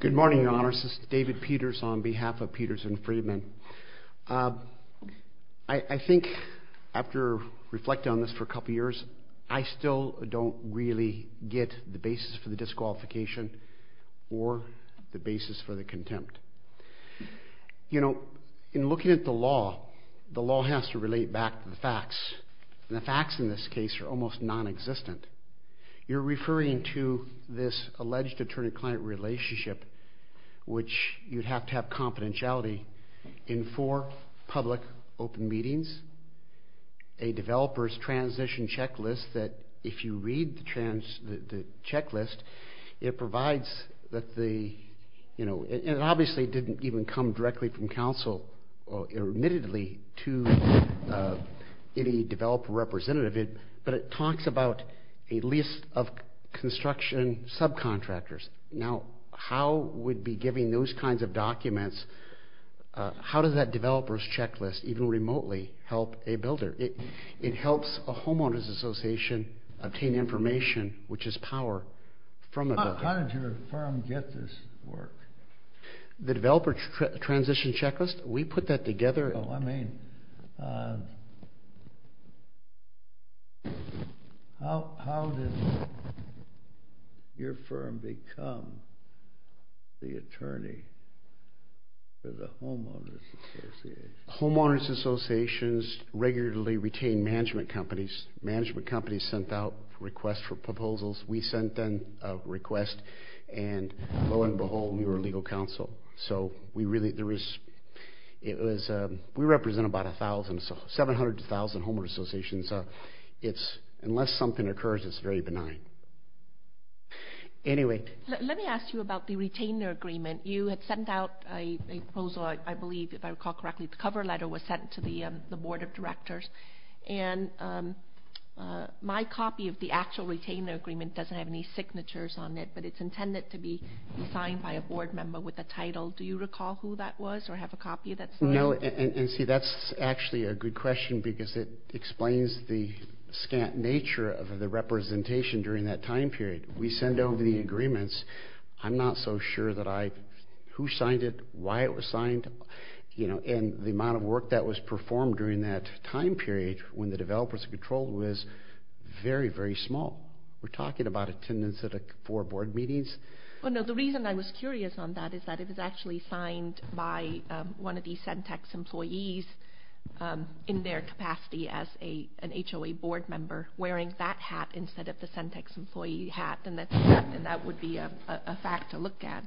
Good morning, Your Honor. This is David Peters on behalf of Peters & Freedman. I think after reflecting on this for a couple of years, I still don't really get the basis for the disqualification or the basis for the contempt. You know, in looking at the law, the law has to relate back to the facts, and the facts in this case are almost non-existent. You're referring to this alleged attorney-client relationship, which you'd have to have confidentiality in four public open meetings, a developer's transition checklist that if you read the checklist, it provides that the, you know, it obviously didn't even come directly from counsel or admittedly to any developer representative, but it talks about a list of construction subcontractors. Now, how would be giving those kinds of documents, how does that developer's checklist even remotely help a builder? It helps a homeowners association obtain information, which is power, from a builder. How did your firm get this work? The developer's transition checklist? We put that together. Oh, I mean, how did your firm become the attorney for the homeowners association? Let me ask you about the retainer agreement. You had sent out a proposal, I believe, if I recall correctly. The cover letter was sent to the board of directors, and my copy of the actual retainer agreement doesn't have any signatures on it, but it's intended to be signed by a board member with a title. Do you recall who that was, or have a copy that's there? No, and see, that's actually a good question, because it explains the scant nature of the representation during that time period. We send over the agreements. I'm not so sure that I, who signed it, why it was signed, you know, and the amount of work that was performed during that time period when the developer's control was very, very small. We're talking about attendance at four board meetings. Well, no, the reason I was curious on that is that it was actually signed by one of the Centex employees in their capacity as an HOA board member wearing that hat instead of the Centex employee hat, and that would be a fact to look at.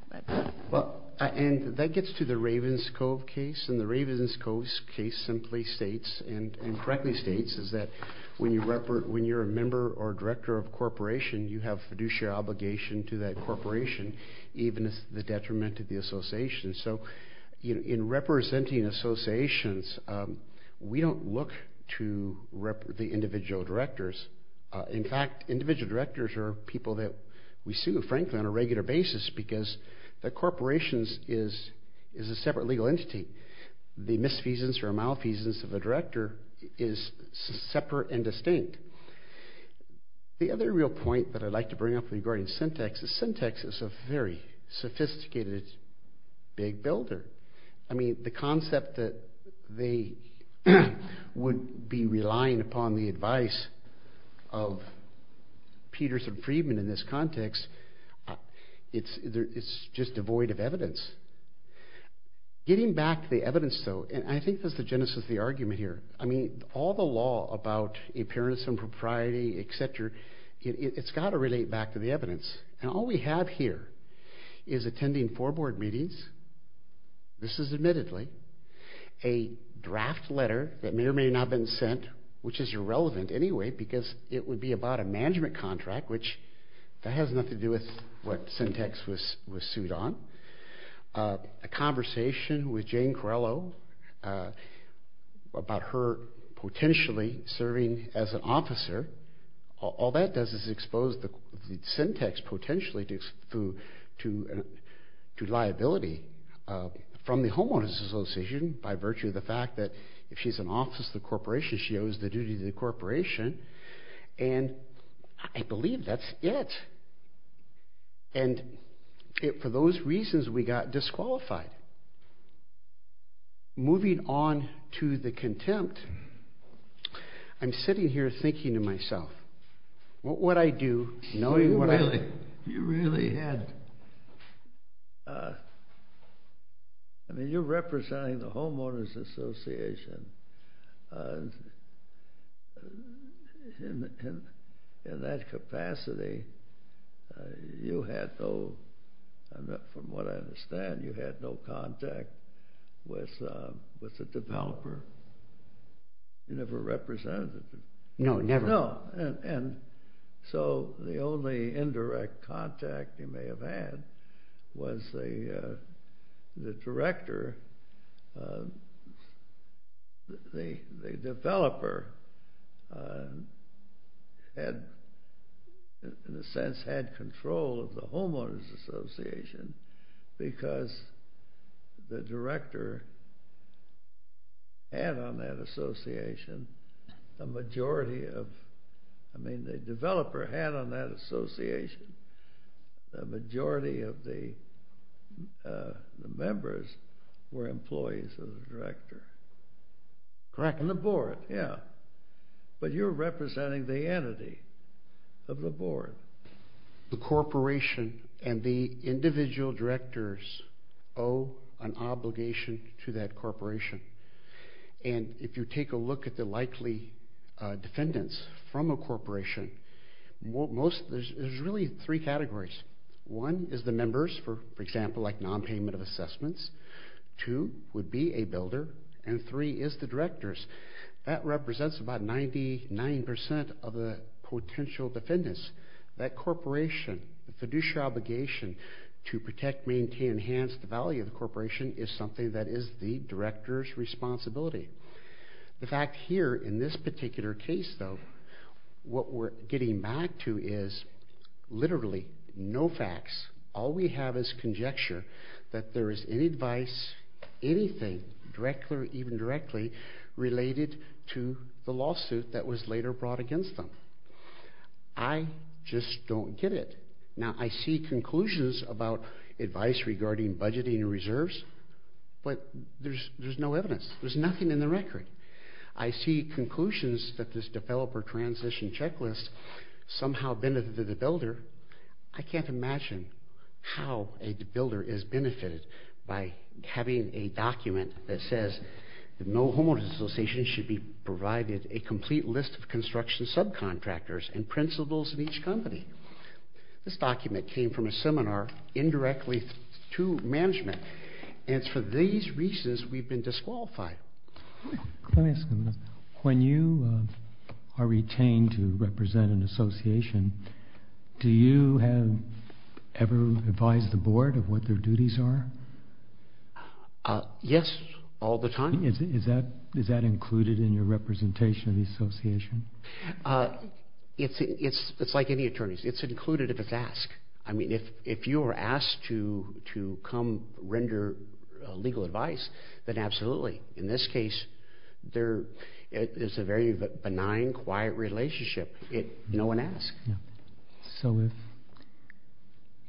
Well, and that gets to the Ravens Cove case, and the Ravens Cove case simply states, and correctly states, is that when you're a member or director of a corporation, you have fiduciary obligation to that corporation, even as the detriment of the association. So, you know, in representing associations, we don't look to the individual directors. In fact, individual directors are people that we sue, frankly, on a regular basis because the corporation is a separate legal entity. The misfeasance or malfeasance of a director is separate and distinct. The other real point that I'd like to bring up regarding Centex is Centex is a very sophisticated big builder. I mean, the concept that they would be relying upon the advice of Peterson Friedman in this context, it's just devoid of evidence. Getting back to the evidence, though, and I think that's the genesis of the argument here. I mean, all the law about appearance and propriety, et cetera, it's got to relate back to the evidence, and all we have here is attending four board meetings. This is admittedly a draft letter that may or may not have been sent, which is irrelevant anyway because it would be about a management contract, which that has nothing to do with what Centex was sued on. A conversation with Jane Corello about her potentially serving as an officer, all that does is expose the Centex potentially to liability from the homeowners association by virtue of the fact that if she's an office of the corporation, she owes the duty to the corporation, and I believe that's it. And for those reasons, we got disqualified. Moving on to the contempt, I'm sitting here thinking to myself, what would I do knowing what I... You really had... I mean, you're representing the homeowners association. In that capacity, you had no, from what I understand, you had no contact with the developer. You never represented him. No, never. No, and so the only indirect contact you may have had was the director, the developer, had, in a sense, had control of the homeowners association because the director had on that association the majority of... I mean, the developer had on that association the majority of the members were employees of the director. Correct. And the board, yeah. But you're representing the entity of the board. The corporation and the individual directors owe an obligation to that corporation, and if you take a look at the likely defendants from a corporation, there's really three categories. One is the members, for example, like non-payment of assessments. Two would be a builder, and three is the directors. That represents about 99% of the potential defendants. That corporation, the fiduciary obligation to protect, maintain, enhance the value of the corporation is something that is the director's responsibility. The fact here in this particular case, though, what we're getting back to is literally no facts. All we have is conjecture that there is any advice, anything, directly or even directly, related to the lawsuit that was later brought against them. I just don't get it. Now, I see conclusions about advice regarding budgeting and reserves, but there's no evidence. There's nothing in the record. I see conclusions that this developer transition checklist somehow benefited the builder. I can't imagine how a builder is benefited by having a document that says no homeowners association should be provided a complete list of construction subcontractors and principals in each company. This document came from a seminar indirectly to management, and it's for these reasons we've been disqualified. Let me ask you this. When you are retained to represent an association, do you ever advise the board of what their duties are? Yes, all the time. Is that included in your representation of the association? It's like any attorney's. It's included if it's asked. If you were asked to come render legal advice, then absolutely. In this case, it's a very benign, quiet relationship. No one asked.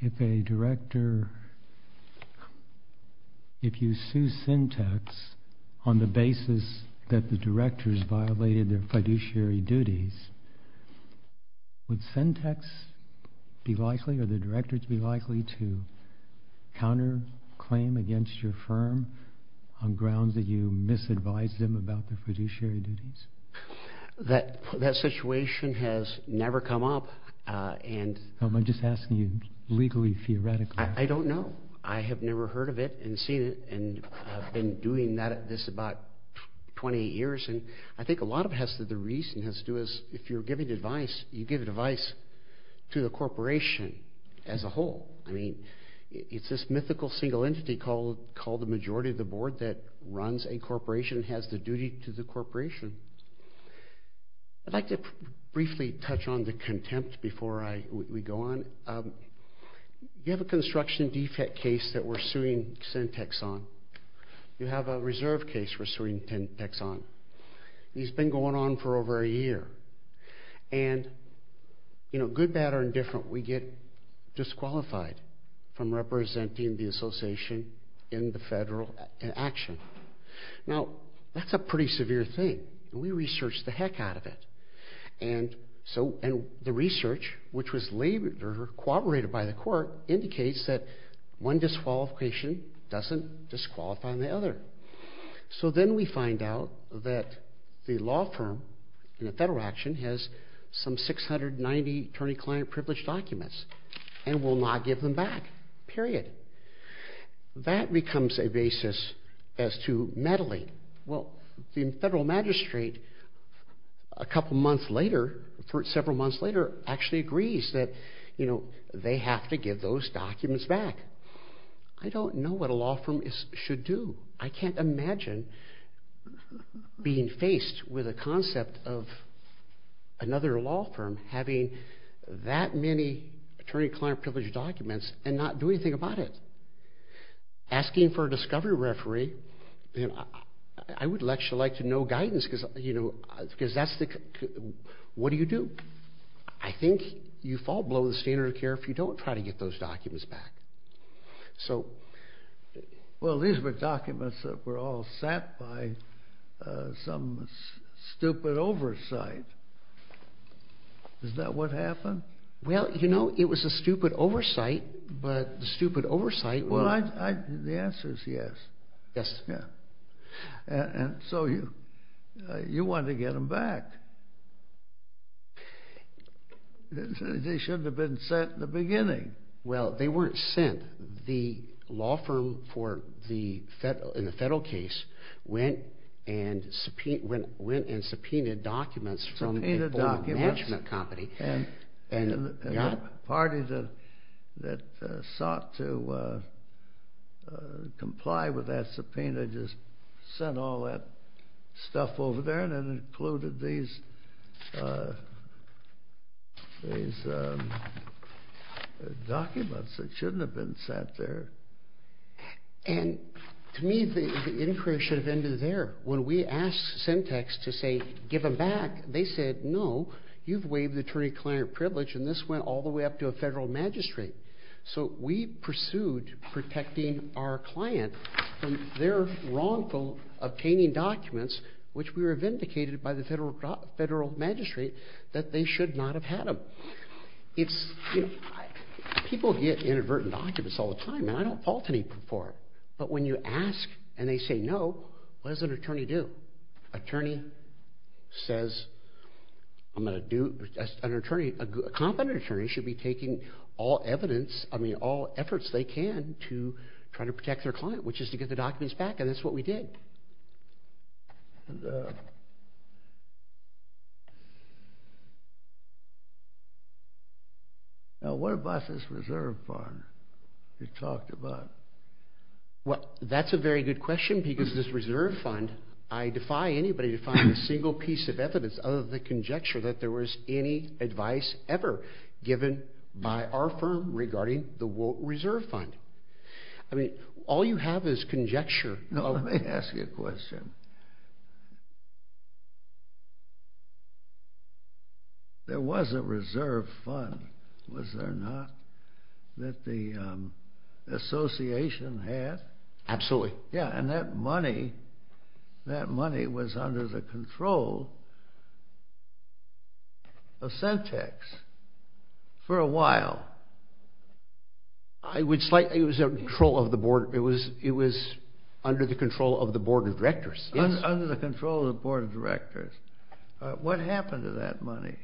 If a director, if you sue Syntex on the basis that the directors violated their fiduciary duties, would Syntex be likely or the directors be likely to counter claim against your firm on grounds that you misadvised them about their fiduciary duties? That situation has never come up. Am I just asking you legally, theoretically? I don't know. I have never heard of it and seen it, and I've been doing this about 20 years. I think a lot of it has to do with if you're giving advice, you give advice to the corporation as a whole. I mean, it's this mythical single entity called the majority of the board that runs a corporation, has the duty to the corporation. I'd like to briefly touch on the contempt before we go on. You have a construction defect case that we're suing Syntex on. You have a reserve case we're suing Syntex on. He's been going on for over a year. And good, bad, or indifferent, we get disqualified from representing the association in the federal action. Now, that's a pretty severe thing. We researched the heck out of it. And the research, which was labeled or corroborated by the court, indicates that one disqualification doesn't disqualify the other. So then we find out that the law firm in the federal action has some 690 attorney-client privilege documents and will not give them back, period. That becomes a basis as to meddling. Well, the federal magistrate a couple months later, several months later, actually agrees that, you know, they have to give those documents back. I don't know what a law firm should do. I can't imagine being faced with a concept of another law firm having that many attorney-client privilege documents and not do anything about it. Asking for a discovery referee, I would actually like to know guidance because, you know, what do you do? I think you fall below the standard of care if you don't try to get those documents back. Well, these were documents that were all set by some stupid oversight. Is that what happened? Well, you know, it was a stupid oversight. Well, the answer is yes. Yes. And so you wanted to get them back. They shouldn't have been sent in the beginning. Well, they weren't sent. The law firm in the federal case went and subpoenaed documents from the Goldman Management Company. And the party that sought to comply with that subpoena just sent all that stuff over there and then included these documents that shouldn't have been sent there. And to me, the inquiry should have ended there. When we asked Centex to say give them back, they said, no, you've waived attorney-client privilege, and this went all the way up to a federal magistrate. So we pursued protecting our client from their wrongful obtaining documents, which we were vindicated by the federal magistrate that they should not have had them. People get inadvertent documents all the time, and I don't fault any for it. But when you ask and they say no, what does an attorney do? A competent attorney should be taking all efforts they can to try to protect their client, which is to get the documents back, and that's what we did. Now, what about this reserve fund you talked about? Well, that's a very good question because this reserve fund, I defy anybody to find a single piece of evidence other than the conjecture that there was any advice ever given by our firm regarding the reserve fund. I mean, all you have is conjecture. No, let me ask you a question. There was a reserve fund, was there not, that the association had? Absolutely. Yeah, and that money was under the control of Centex for a while. It was under the control of the board of directors. Under the control of the board of directors. What happened to that money?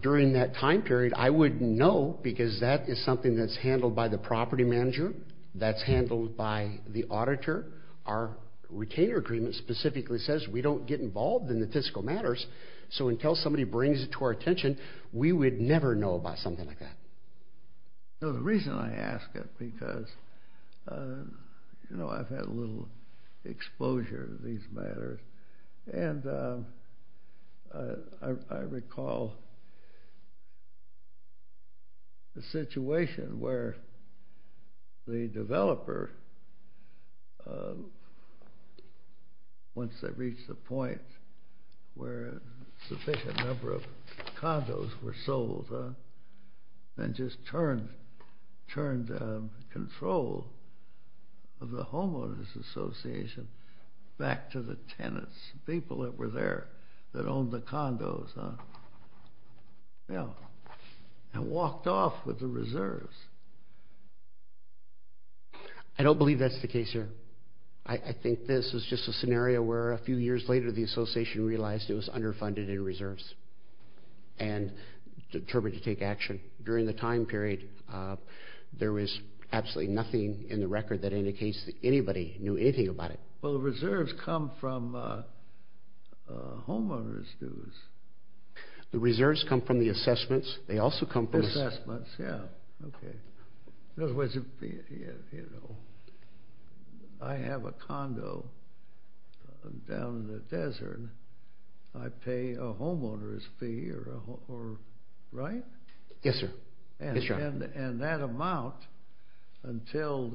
During that time period, I wouldn't know because that is something that's handled by the property manager, that's handled by the auditor. Our retainer agreement specifically says we don't get involved in the fiscal matters, so until somebody brings it to our attention, we would never know about something like that. The reason I ask it, because I've had a little exposure to these matters, and I recall the situation where the developer, once they reached the point where a sufficient number of condos were sold, then just turned control of the homeowners association back to the tenants, people that were there that owned the condos, and walked off with the reserves. I don't believe that's the case here. I think this is just a scenario where a few years later the association realized it was underfunded in reserves, and determined to take action. During the time period, there was absolutely nothing in the record that indicates that anybody knew anything about it. Well, the reserves come from homeowners' dues. The reserves come from the assessments. Assessments, yeah. I have a condo down in the desert. I pay a homeowner's fee, right? Yes, sir. And that amount, while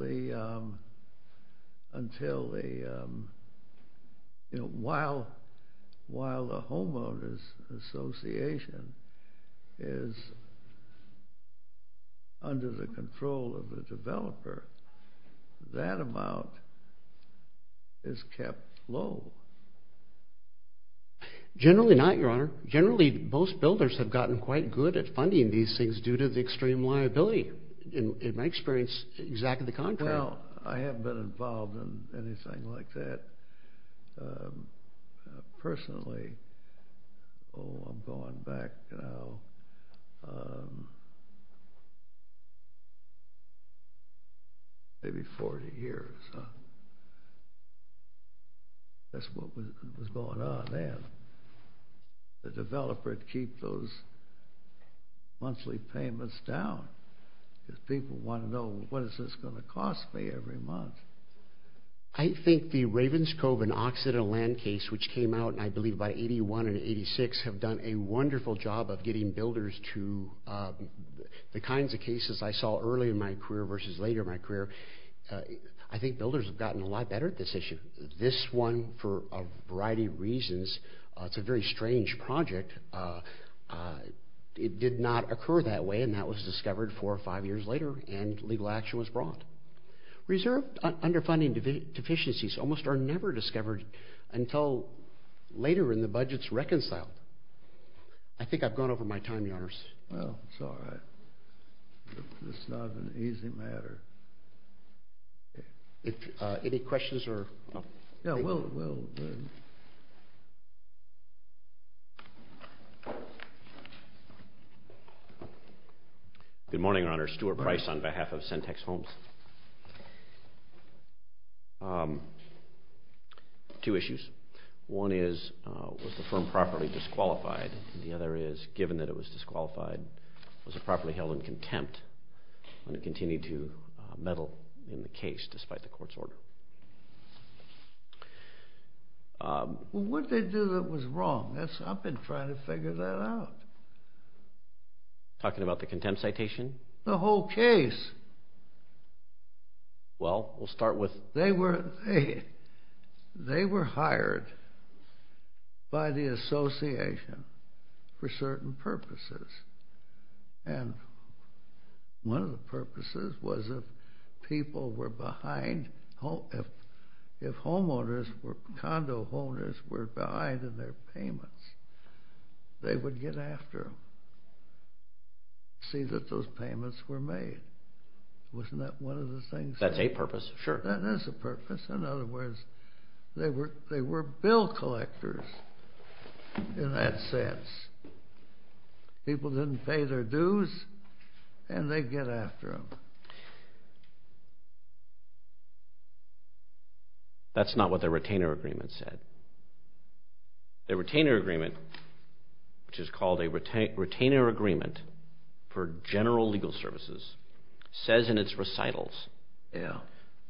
the homeowners association is under the control of the developer, that amount is kept low. Generally not, Your Honor. Generally, most builders have gotten quite good at funding these things due to the extreme liability. In my experience, exactly the contrary. Well, I haven't been involved in anything like that personally. Oh, I'm going back maybe 40 years. That's what was going on then. The developer would keep those monthly payments down. Because people want to know, what is this going to cost me every month? I think the Raven's Cove and Occidental Land case, which came out I believe by 81 and 86, have done a wonderful job of getting builders to the kinds of cases I saw early in my career versus later in my career. I think builders have gotten a lot better at this issue. This one, for a variety of reasons, it's a very strange project. It did not occur that way, and that was discovered four or five years later, and legal action was brought. Reserve underfunding deficiencies almost are never discovered until later in the budget's reconciled. I think I've gone over my time, Your Honors. Well, it's all right. It's not an easy matter. Any questions? Good morning, Your Honors. Stuart Price on behalf of Centex Homes. Two issues. One is, was the firm properly disqualified? And the other is, given that it was disqualified, was it properly held in contempt when it continued to meddle in the case despite the court's order? Well, what did they do that was wrong? I've been trying to figure that out. Talking about the contempt citation? The whole case. Well, we'll start with... They were hired by the association for certain purposes, and one of the purposes was if people were behind, if condo homeowners were behind in their payments, they would get after them, see that those payments were made. Wasn't that one of the things? That's a purpose, sure. That is a purpose. In other words, they were bill collectors in that sense. People didn't pay their dues, and they'd get after them. That's not what the retainer agreement said. The retainer agreement, which is called a retainer agreement for general legal services, says in its recitals,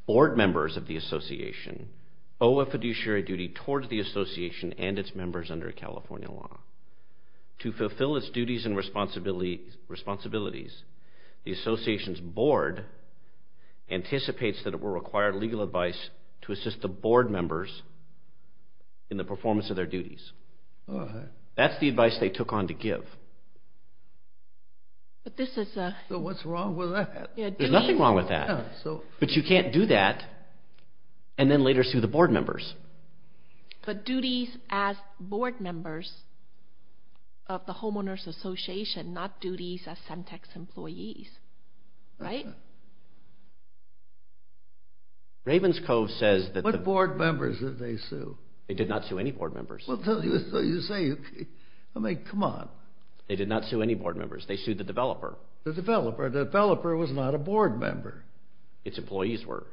board members of the association owe a fiduciary duty towards the association and its members under California law. To fulfill its duties and responsibilities, the association's board anticipates that it will require legal advice to assist the board members in the performance of their duties. That's the advice they took on to give. But this is a... So what's wrong with that? There's nothing wrong with that. But you can't do that and then later sue the board members. But duties as board members of the homeowners association, not duties as Semtex employees, right? Ravenscove says that... What board members did they sue? They did not sue any board members. I mean, come on. They did not sue any board members. They sued the developer. The developer. The developer was not a board member. Its employees were.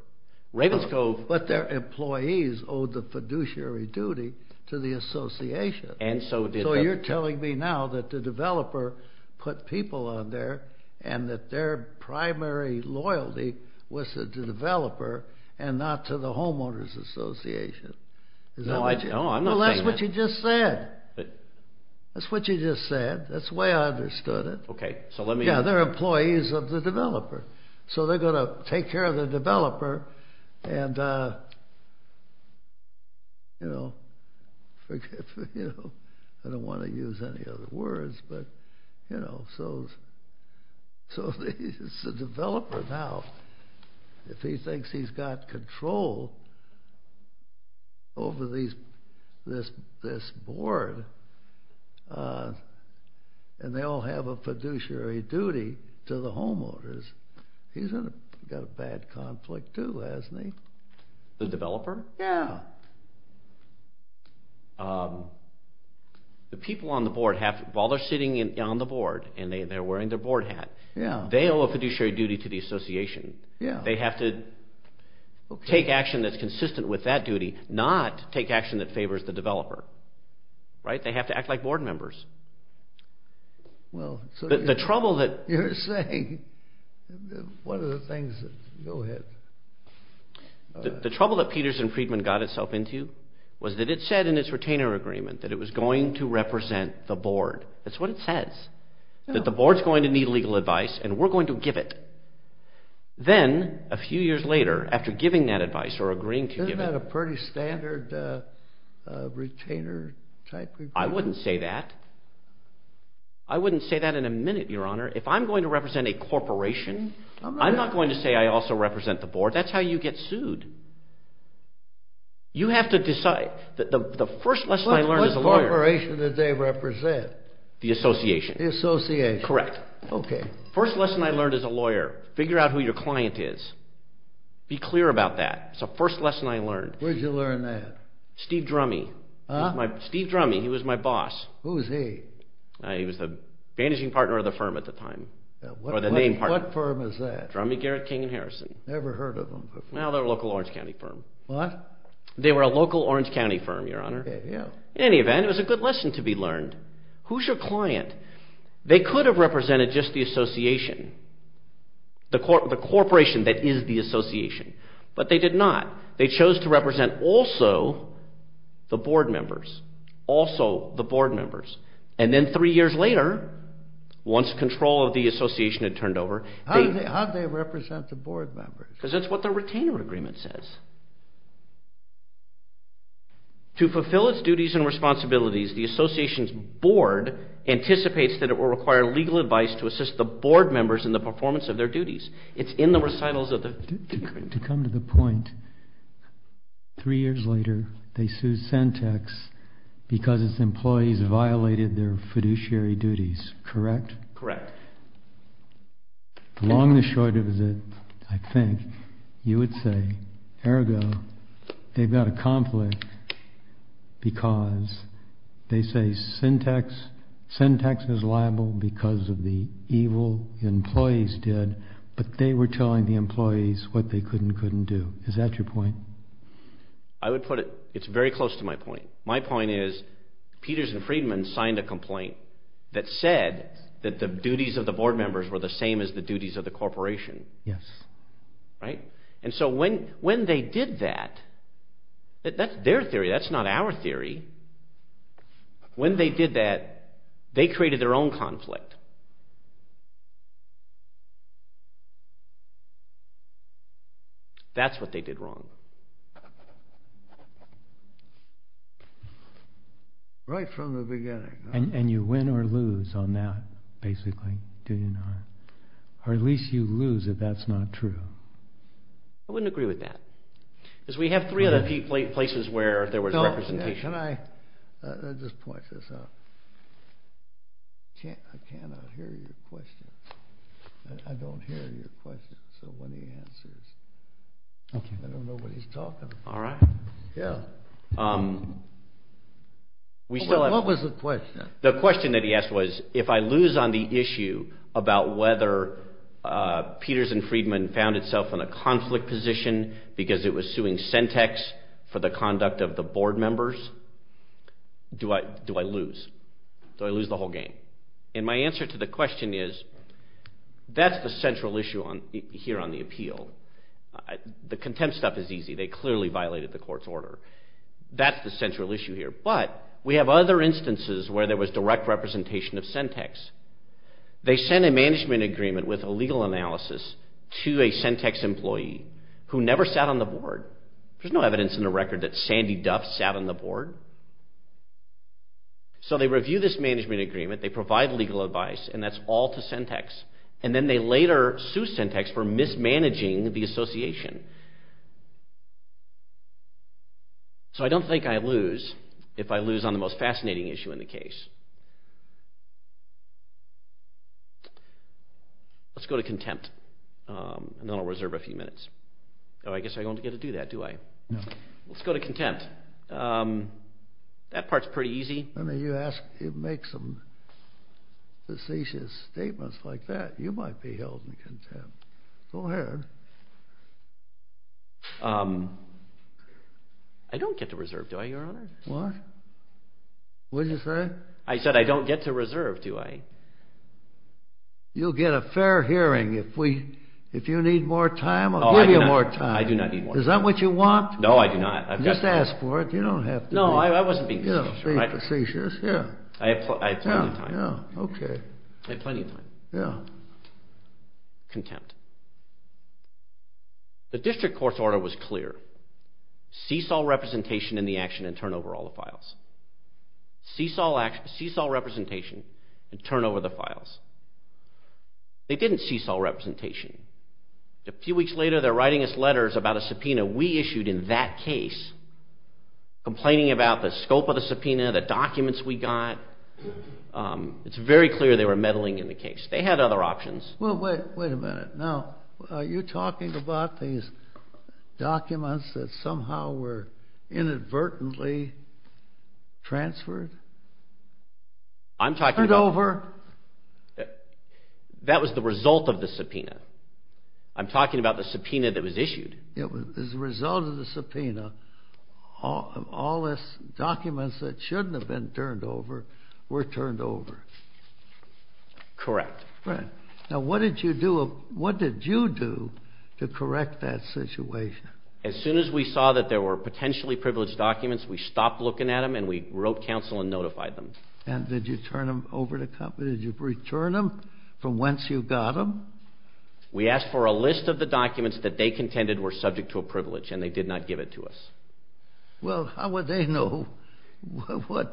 Ravenscove... But their employees owed the fiduciary duty to the association. So you're telling me now that the developer put people on there and that their primary loyalty was to the developer and not to the homeowners association. No, I'm not saying that. Well, that's what you just said. That's what you just said. That's the way I understood it. Okay, so let me... Yeah, their employees of the developer. So they're going to take care of the developer and, you know, forgive me, you know, I don't want to use any other words, but, you know, so it's the developer now. If he thinks he's got control over this board and they all have a fiduciary duty to the homeowners, he's got a bad conflict too, hasn't he? The developer? Yeah. The people on the board, while they're sitting on the board and they're wearing their board hat, they owe a fiduciary duty to the association. They have to take action that's consistent with that duty, not take action that favors the developer, right? They have to act like board members. Well, so... The trouble that... You're saying... What are the things that... Go ahead. The trouble that Peters and Friedman got itself into was that it said in its retainer agreement that it was going to represent the board. That's what it says. That the board's going to need legal advice and we're going to give it. Then, a few years later, after giving that advice or agreeing to give it... Isn't that a pretty standard retainer-type agreement? I wouldn't say that. I wouldn't say that in a minute, Your Honor. If I'm going to represent a corporation, I'm not going to say I also represent the board. That's how you get sued. You have to decide. The first lesson I learned as a lawyer... What corporation did they represent? The association. The association. Correct. Okay. First lesson I learned as a lawyer, figure out who your client is. Be clear about that. It's the first lesson I learned. Where'd you learn that? Steve Drummey. Steve Drummey, he was my boss. Who was he? He was the managing partner of the firm at the time. What firm was that? Drummey, Garrett, King & Harrison. Never heard of them before. No, they were a local Orange County firm. What? They were a local Orange County firm, Your Honor. In any event, it was a good lesson to be learned. Who's your client? They could have represented just the association. The corporation that is the association. But they did not. They chose to represent also the board members. Also the board members. And then three years later, once control of the association had turned over... How'd they represent the board members? Because that's what the retainer agreement says. To fulfill its duties and responsibilities, the association's board anticipates that it will require legal advice to assist the board members in the performance of their duties. It's in the recitals of the... To come to the point, three years later, they sued Centex because its employees violated their fiduciary duties. Correct? Correct. Along the short of it, I think, you would say, ergo, they've got a conflict because they say Centex is liable because of the evil the employees did, but they were telling the employees what they could and couldn't do. Is that your point? I would put it... It's very close to my point. My point is, Peters and Friedman signed a complaint that said that the duties of the board members were the same as the duties of the corporation. Yes. Right? And so when they did that... That's their theory, that's not our theory. When they did that, they created their own conflict. That's what they did wrong. Right from the beginning. And you win or lose on that, basically, do you not? Or at least you lose if that's not true. I wouldn't agree with that. Because we have three other places where there was representation. Can I just point this out? I cannot hear your question. I don't hear your question, so when he answers... I don't know what he's talking about. All right. Yeah. What was the question? The question that he asked was, if I lose on the issue about whether Peters and Friedman found itself in a conflict position because it was suing Centex for the conduct of the board members, do I lose? Do I lose the whole game? And my answer to the question is, that's the central issue here on the appeal. The contempt stuff is easy. They clearly violated the court's order. That's the central issue here. But we have other instances where there was direct representation of Centex. They send a management agreement with a legal analysis to a Centex employee who never sat on the board. There's no evidence in the record that Sandy Duff sat on the board. So they review this management agreement, they provide legal advice, and that's all to Centex. And then they later sue Centex for mismanaging the association. So I don't think I lose if I lose on the most fascinating issue in the case. Let's go to contempt. And then I'll reserve a few minutes. Oh, I guess I don't get to do that, do I? Let's go to contempt. That part's pretty easy. You make some facetious statements like that, you might be held in contempt. Go ahead. I don't get to reserve, do I, Your Honor? What? What did you say? I said I don't get to reserve, do I? You'll get a fair hearing. If you need more time, I'll give you more time. I do not need more time. Is that what you want? No, I do not. Just ask for it. You don't have to. No, I wasn't being facetious. You don't have to be facetious, yeah. I have plenty of time. Yeah, yeah, okay. I have plenty of time. Yeah. The district court's order was clear. Cease all representation in the action and turn over all the files. Cease all representation and turn over the files. They didn't cease all representation. A few weeks later, they're writing us letters about a subpoena we issued in that case, complaining about the scope of the subpoena, the documents we got. It's very clear they were meddling in the case. They had other options. Well, wait a minute. Now, are you talking about these documents that somehow were inadvertently transferred? I'm talking about- Turned over. That was the result of the subpoena. I'm talking about the subpoena that was issued. It was the result of the subpoena. All those documents that shouldn't have been turned over were turned over. Correct. Right. Now, what did you do to correct that situation? As soon as we saw that there were potentially privileged documents, we stopped looking at them and we wrote counsel and notified them. And did you turn them over to counsel? Did you return them from whence you got them? We asked for a list of the documents that they contended were subject to a privilege and they did not give it to us. Well, how would they know what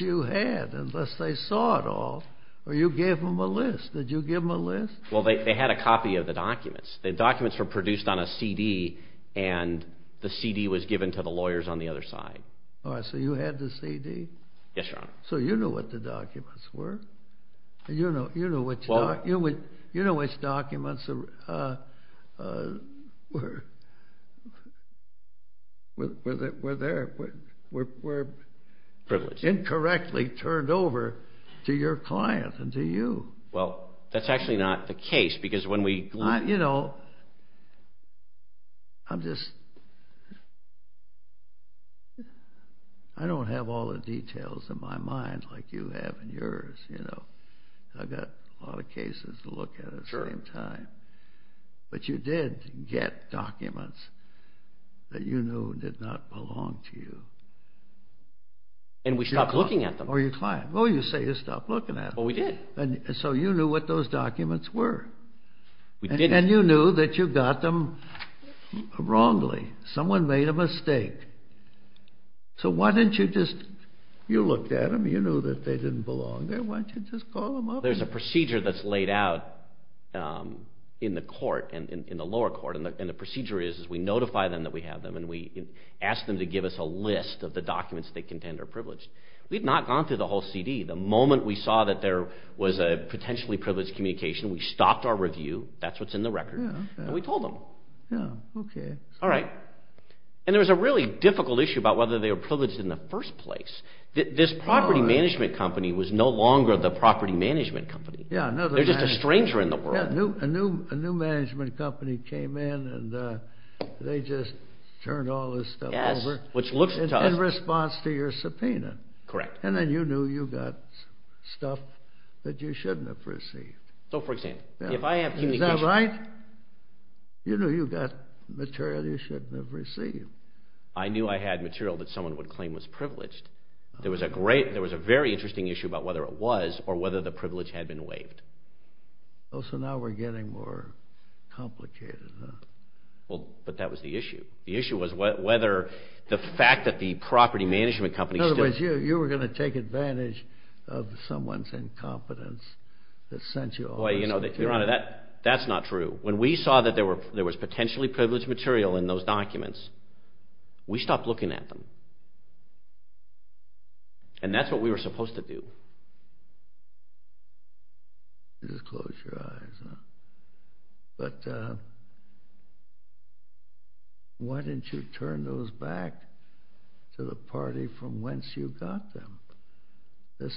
you had unless they saw it all or you gave them a list? Did you give them a list? Well, they had a copy of the documents. The documents were produced on a CD and the CD was given to the lawyers on the other side. All right, so you had the CD? Yes, Your Honor. So you knew what the documents were? You knew which documents were there, were incorrectly turned over to your client and to you. Well, that's actually not the case because when we... You know, I'm just... I don't have all the details in my mind like you have in yours. I've got a lot of cases to look at at the same time. But you did get documents that you knew did not belong to you. And we stopped looking at them. Or your client. Well, you say you stopped looking at them. Well, we did. So you knew what those documents were. And you knew that you got them wrongly. Someone made a mistake. So why didn't you just... You looked at them. You knew that they didn't belong there. Why didn't you just call them up? There's a procedure that's laid out in the court, in the lower court, and the procedure is we notify them that we have them and we ask them to give us a list of the documents they contend are privileged. We've not gone through the whole CD. The moment we saw that there was a potentially privileged communication, we stopped our review. That's what's in the record. And we told them. All right. And there was a really difficult issue about whether they were privileged in the first place. This property management company was no longer the property management company. They're just a stranger in the world. A new management company came in and they just turned all this stuff over in response to your subpoena. Correct. And then you knew you got stuff that you shouldn't have received. So, for example, if I have communication... Is that right? You knew you got material you shouldn't have received. I knew I had material that someone would claim was privileged. There was a very interesting issue about whether it was or whether the privilege had been waived. Oh, so now we're getting more complicated, huh? But that was the issue. The issue was whether the fact that the property management company... In other words, you were going to take advantage of someone's incompetence that sent you all this. Your Honor, that's not true. When we saw that there was potentially privileged material in those documents, we stopped looking at them. And that's what we were supposed to do. Just close your eyes, huh? Why didn't you turn those back to the party from whence you got them? This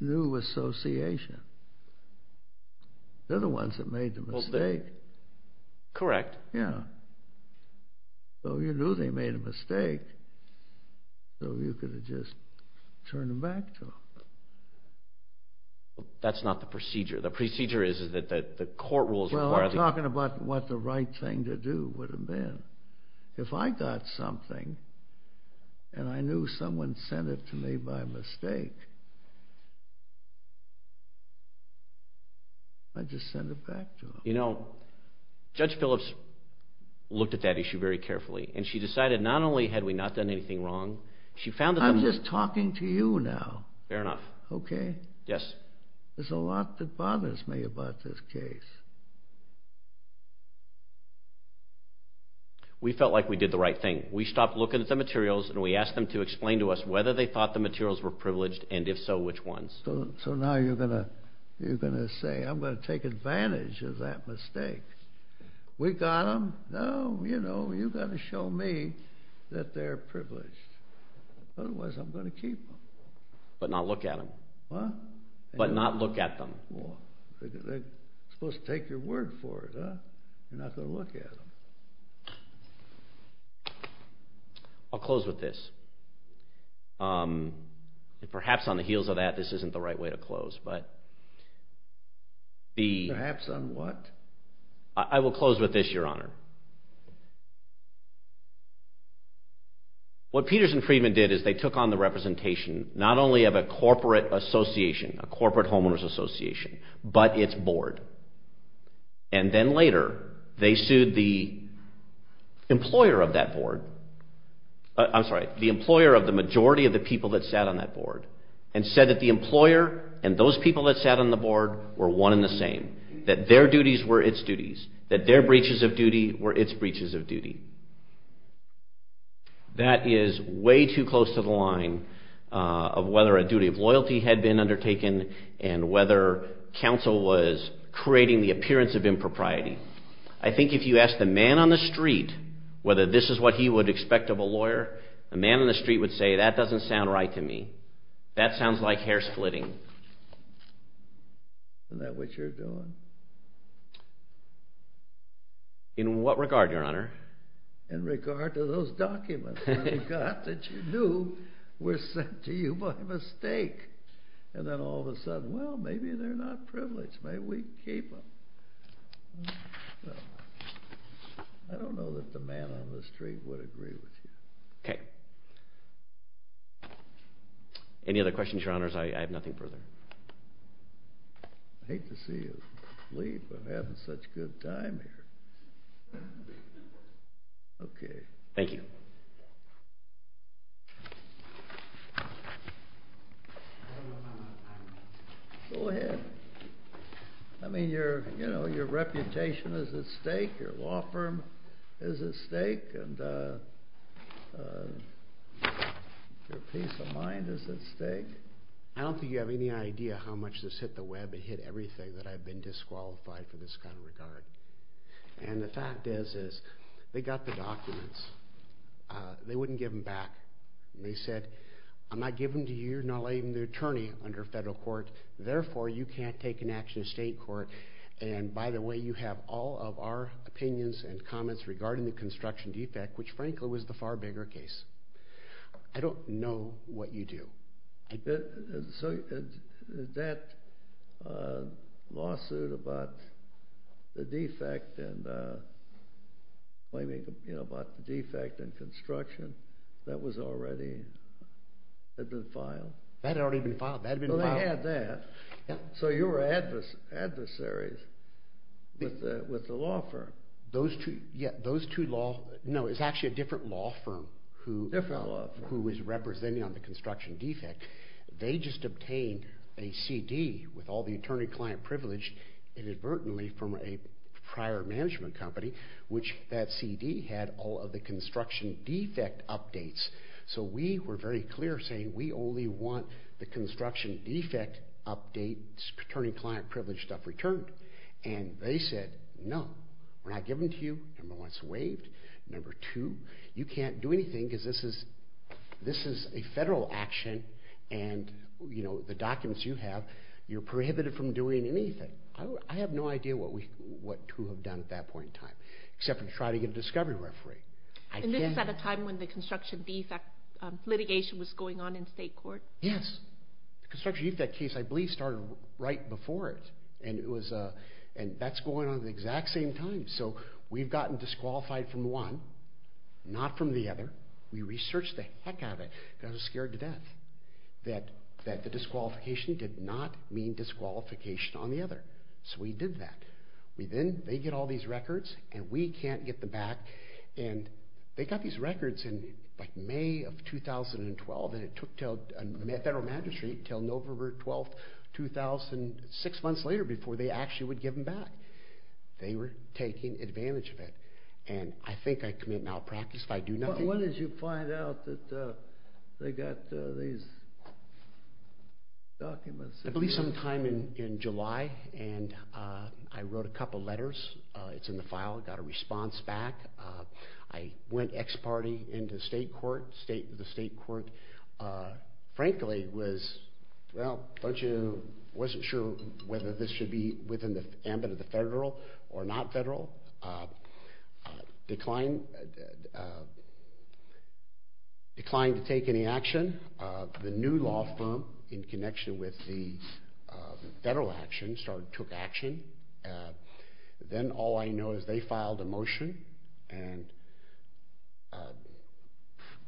new association. They're the ones that made the mistake. Correct. Yeah. So you knew they made a mistake, so you could have just turned them back to them. That's not the procedure. The procedure is that the court rules require... Well, I'm talking about what the right thing to do would have been. If I got something and I knew someone sent it to me by mistake, I'd just send it back to them. You know, Judge Phillips looked at that issue very carefully, and she decided not only had we not done anything wrong, she found that... I'm just talking to you now. Fair enough. Okay? Yes. There's a lot that bothers me about this case. We felt like we did the right thing. We stopped looking at the materials, and we asked them to explain to us whether they thought the materials were privileged, and if so, which ones. So now you're going to say, I'm going to take advantage of that mistake. We got them. Now, you know, you've got to show me that they're privileged. Otherwise, I'm going to keep them. But not look at them. What? But not look at them. Well, they're supposed to take your word for it, huh? You're not going to look at them. I'll close with this. Perhaps on the heels of that, this isn't the right way to close, but... Perhaps on what? I will close with this, Your Honor. What Peters and Friedman did is they took on the representation not only of a corporate association, a corporate homeowners association, but its board. And then later, they sued the employer of that board. I'm sorry, the employer of the majority of the people that sat on that board and said that the employer and those people that sat on the board were one and the same, that their duties were its duties, that their breaches of duties were its breaches of duty. That is way too close to the line of whether a duty of loyalty had been undertaken and whether counsel was creating the appearance of impropriety. I think if you ask the man on the street whether this is what he would expect of a lawyer, the man on the street would say, that doesn't sound right to me. That sounds like hair splitting. Isn't that what you're doing? In what regard, Your Honor? In regard to those documents that you got, that you knew were sent to you by mistake. And then all of a sudden, well, maybe they're not privileged. Maybe we keep them. I don't know that the man on the street would agree with you. Okay. Any other questions, Your Honors? I have nothing further. I hate to see you. Leave. I'm having such good time here. Okay. Thank you. Go ahead. I mean, your reputation is at stake. Your law firm is at stake. Your peace of mind is at stake. I don't think you have any idea how much this hit the web. It hit everything that I've been disqualified for this kind of regard. And the fact is, they got the documents. They wouldn't give them back. They said, I'm not giving them to you. You're not letting the attorney under federal court. Therefore, you can't take an action in state court. And by the way, you have all of our opinions and comments regarding the construction defect, which frankly was the far bigger case. I don't know what you do. So, that lawsuit about the defect and claiming about the defect in construction that was already had been filed. That had already been filed. That had been filed. They had that. So, you were adversaries with the law firm. Those two, yeah, those two law, no, it's actually a different law firm who is representing on the construction defect. They just obtained a CD with all the attorney-client privilege inadvertently from a prior management company, which that CD had all of the construction defect updates. So, we were very clear saying, we only want the construction defect updates, attorney-client privilege stuff returned. And they said, no, we're not giving it to you. Number one, it's waived. Number two, you can't do anything because this is, this is a federal action and, you know, the documents you have, you're prohibited from doing anything. I have no idea what we, what to have done at that point in time, except to try to get a discovery referee. And this is at a time when the construction defect litigation was going on in state court? Yes. The construction defect case, I believe, started right before it. And it was, and that's going on at the exact same time. So, we've gotten disqualified from one, not from the other. We researched the heck out of it, and I was scared to death that, that the disqualification did not mean disqualification on the other. So, we did that. We then, they get all these records, and we can't get them back. And they got these records in, like, May of 2012, and it took until, federal magistrate, until November 12th, 2006, months later, before they actually would give them back. They were taking advantage of it. And I think I commit malpractice if I do nothing. When did you find out that they got these documents? I believe sometime in July. And I wrote a couple letters. It's in the file. I got a response back. I went ex parte into state court, state, the state court. Frankly, it was, well, I wasn't sure whether this should be within the ambit of the federal or not federal. Declined to take any action. The new law firm, in connection with the federal action, started, took action. Then, all I know is they filed a motion, and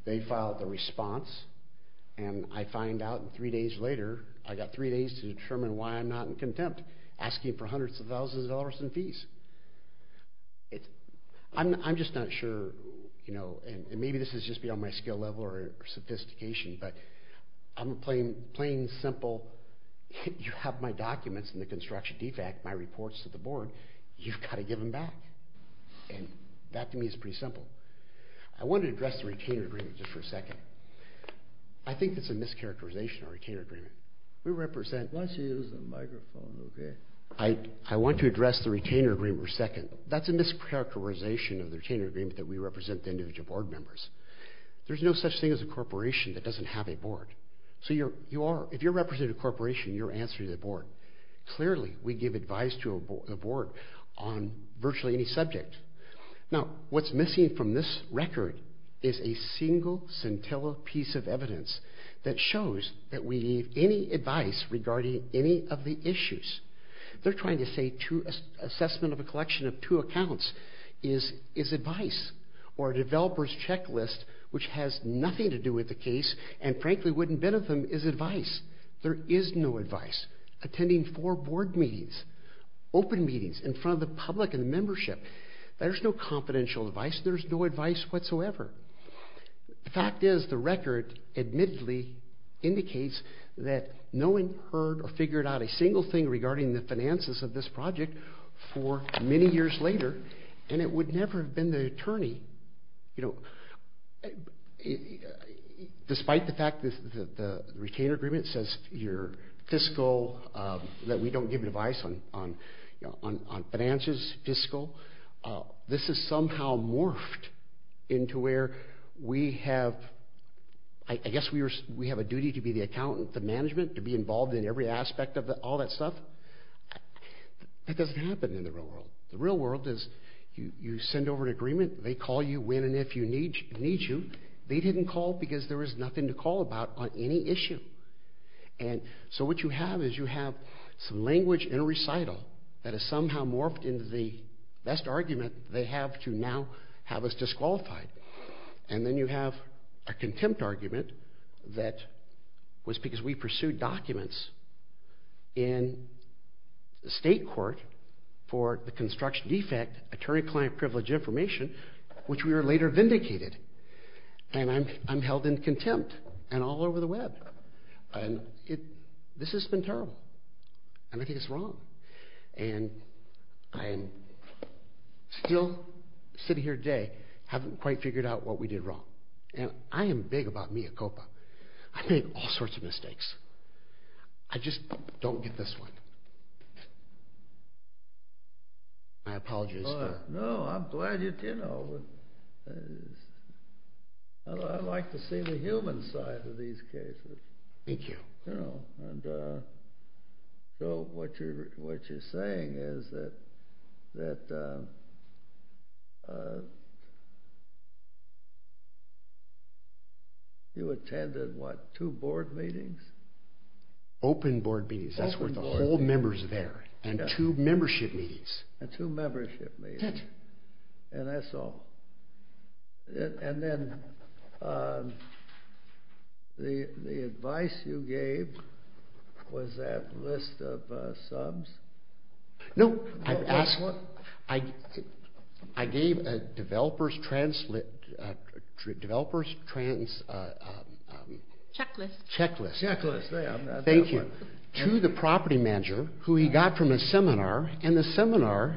they filed a response. And I find out three days later, I got three days to determine why I'm not in contempt, asking for hundreds of thousands of dollars in fees. I'm just not sure, you know, and maybe this is just beyond my skill level or sophistication, but I'm plain simple. You have my documents in the construction defect, my reports to the board. You've got to give them back. And that, to me, is pretty simple. I want to address the retainer agreement just for a second. I think it's a mischaracterization of retainer agreement. We represent, Let's use the microphone, okay? I want to address the retainer agreement for a second. That's a mischaracterization of the retainer agreement, that we represent the individual board members. There's no such thing as a corporation that doesn't have a board. So you are, if you're representing a corporation, you're answering the board. Clearly, we give advice to a board on virtually any subject. Now, what's missing from this record is a single scintilla piece of evidence that shows that we give any advice regarding any of the issues. They're trying to say, assessment of a collection of two accounts is advice, or a developer's checklist, which has nothing to do with the case, and frankly wouldn't benefit them, is advice. There is no advice. Attending four board meetings, open meetings, in front of the public and the membership, there's no confidential advice. There's no advice whatsoever. The fact is, the record, admittedly, indicates that no one heard or figured out a single thing regarding the finances of this project for many years later, and it would never have been the attorney. You know, despite the fact that the retainer agreement says your fiscal, that we don't give advice on finances, fiscal, this has somehow morphed into where we have, I guess we have a duty to be the accountant, the management, to be involved in every aspect of all that stuff. That doesn't happen in the real world. The real world is you send over an agreement, they call you when and if they need you. They didn't call because there was nothing to call about on any issue, and so what you have is you have some language in a recital that has somehow morphed into the best argument they have to now have us disqualified, and then you have a contempt argument that was because we pursued documents in the state court for the construction defect, attorney-client privilege information, which we were later vindicated, and I'm held in contempt and all over the web, and this has been terrible, and I think it's wrong, and I'm still sitting here today, haven't quite figured out what we did wrong, and I am big about mea culpa. I've made all sorts of mistakes. I just don't get this one. I apologize. No, I'm glad you, you know, I like to see the human side of these cases. Thank you. So what you're saying is that you attended, what, two board meetings? Open board meetings. Open board meetings. That's where the whole member's there, and two membership meetings. And two membership meetings, and that's all, and then the advice you gave was that list of subs? No. I gave a developer's checklist to the property manager, who he got from a seminar, and the seminar,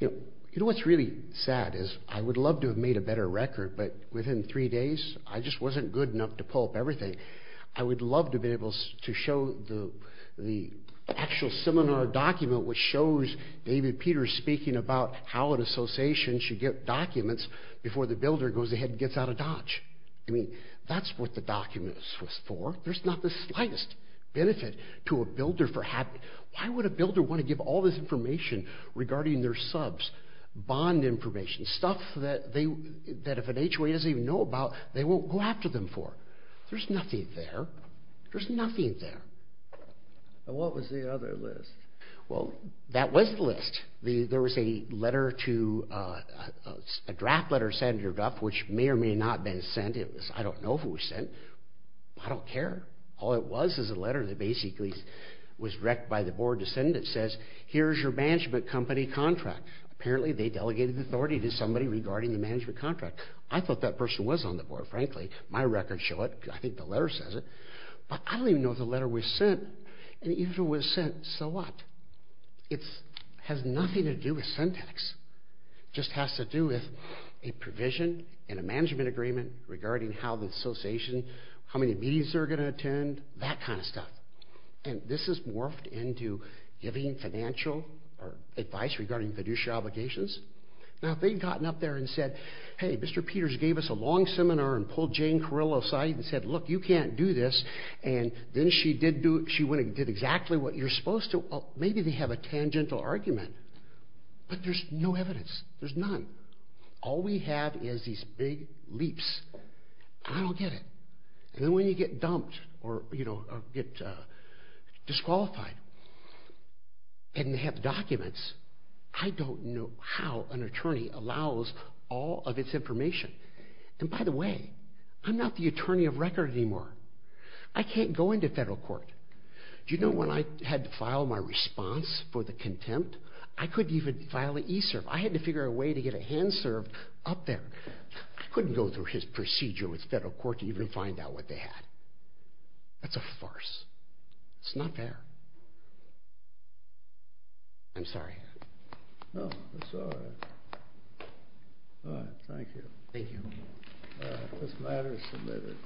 you know, what's really sad is I would love to have made a better record, but within three days, I just wasn't good enough to pull up everything. I would love to have been able to show the actual seminar document, which shows David Peters speaking about how an association should get documents before the builder goes ahead and gets out of Dodge. I mean, that's what the document was for. There's not the slightest benefit to a builder for having, why would a builder want to give all this information regarding their subs bond information, stuff that if an HOA doesn't even know about, they won't go after them for. There's nothing there. There's nothing there. And what was the other list? Well, that was the list. There was a letter to, a draft letter sent to your draft, which may or may not have been sent. I don't know if it was sent. I don't care. All it was is a letter that basically was directed by the board to send. It says, here's your management company contract. Apparently they delegated authority to somebody regarding the management contract. I thought that person was on the board, frankly. My records show it. I think the letter says it. But I don't even know if the letter was sent. And even if it was sent, so what? It has nothing to do with syntax. It just has to do with a provision in a management agreement regarding how the association, how many meetings they're going to attend, that kind of stuff. And this has morphed into giving financial advice regarding fiduciary obligations. Now, if they'd gotten up there and said, hey, Mr. Peters gave us a long seminar and pulled Jane Carillo aside and said, look, you can't do this, and then she went and did exactly what you're supposed to, maybe they have a tangential argument. But there's no evidence. There's none. All we have is these big leaps. I don't get it. And then when you get dumped or get disqualified and they have documents, I don't know how an attorney allows all of its information. And by the way, I'm not the attorney of record anymore. I can't go into federal court. Do you know when I had to file my response for the contempt, I couldn't even file an e-serve. I had to figure out a way to get a hand serve up there. I couldn't go through his procedure with federal court to even find out what they had. That's a farce. It's not fair. I'm sorry. No, it's all right. All right. Thank you. Thank you. This matter is submitted.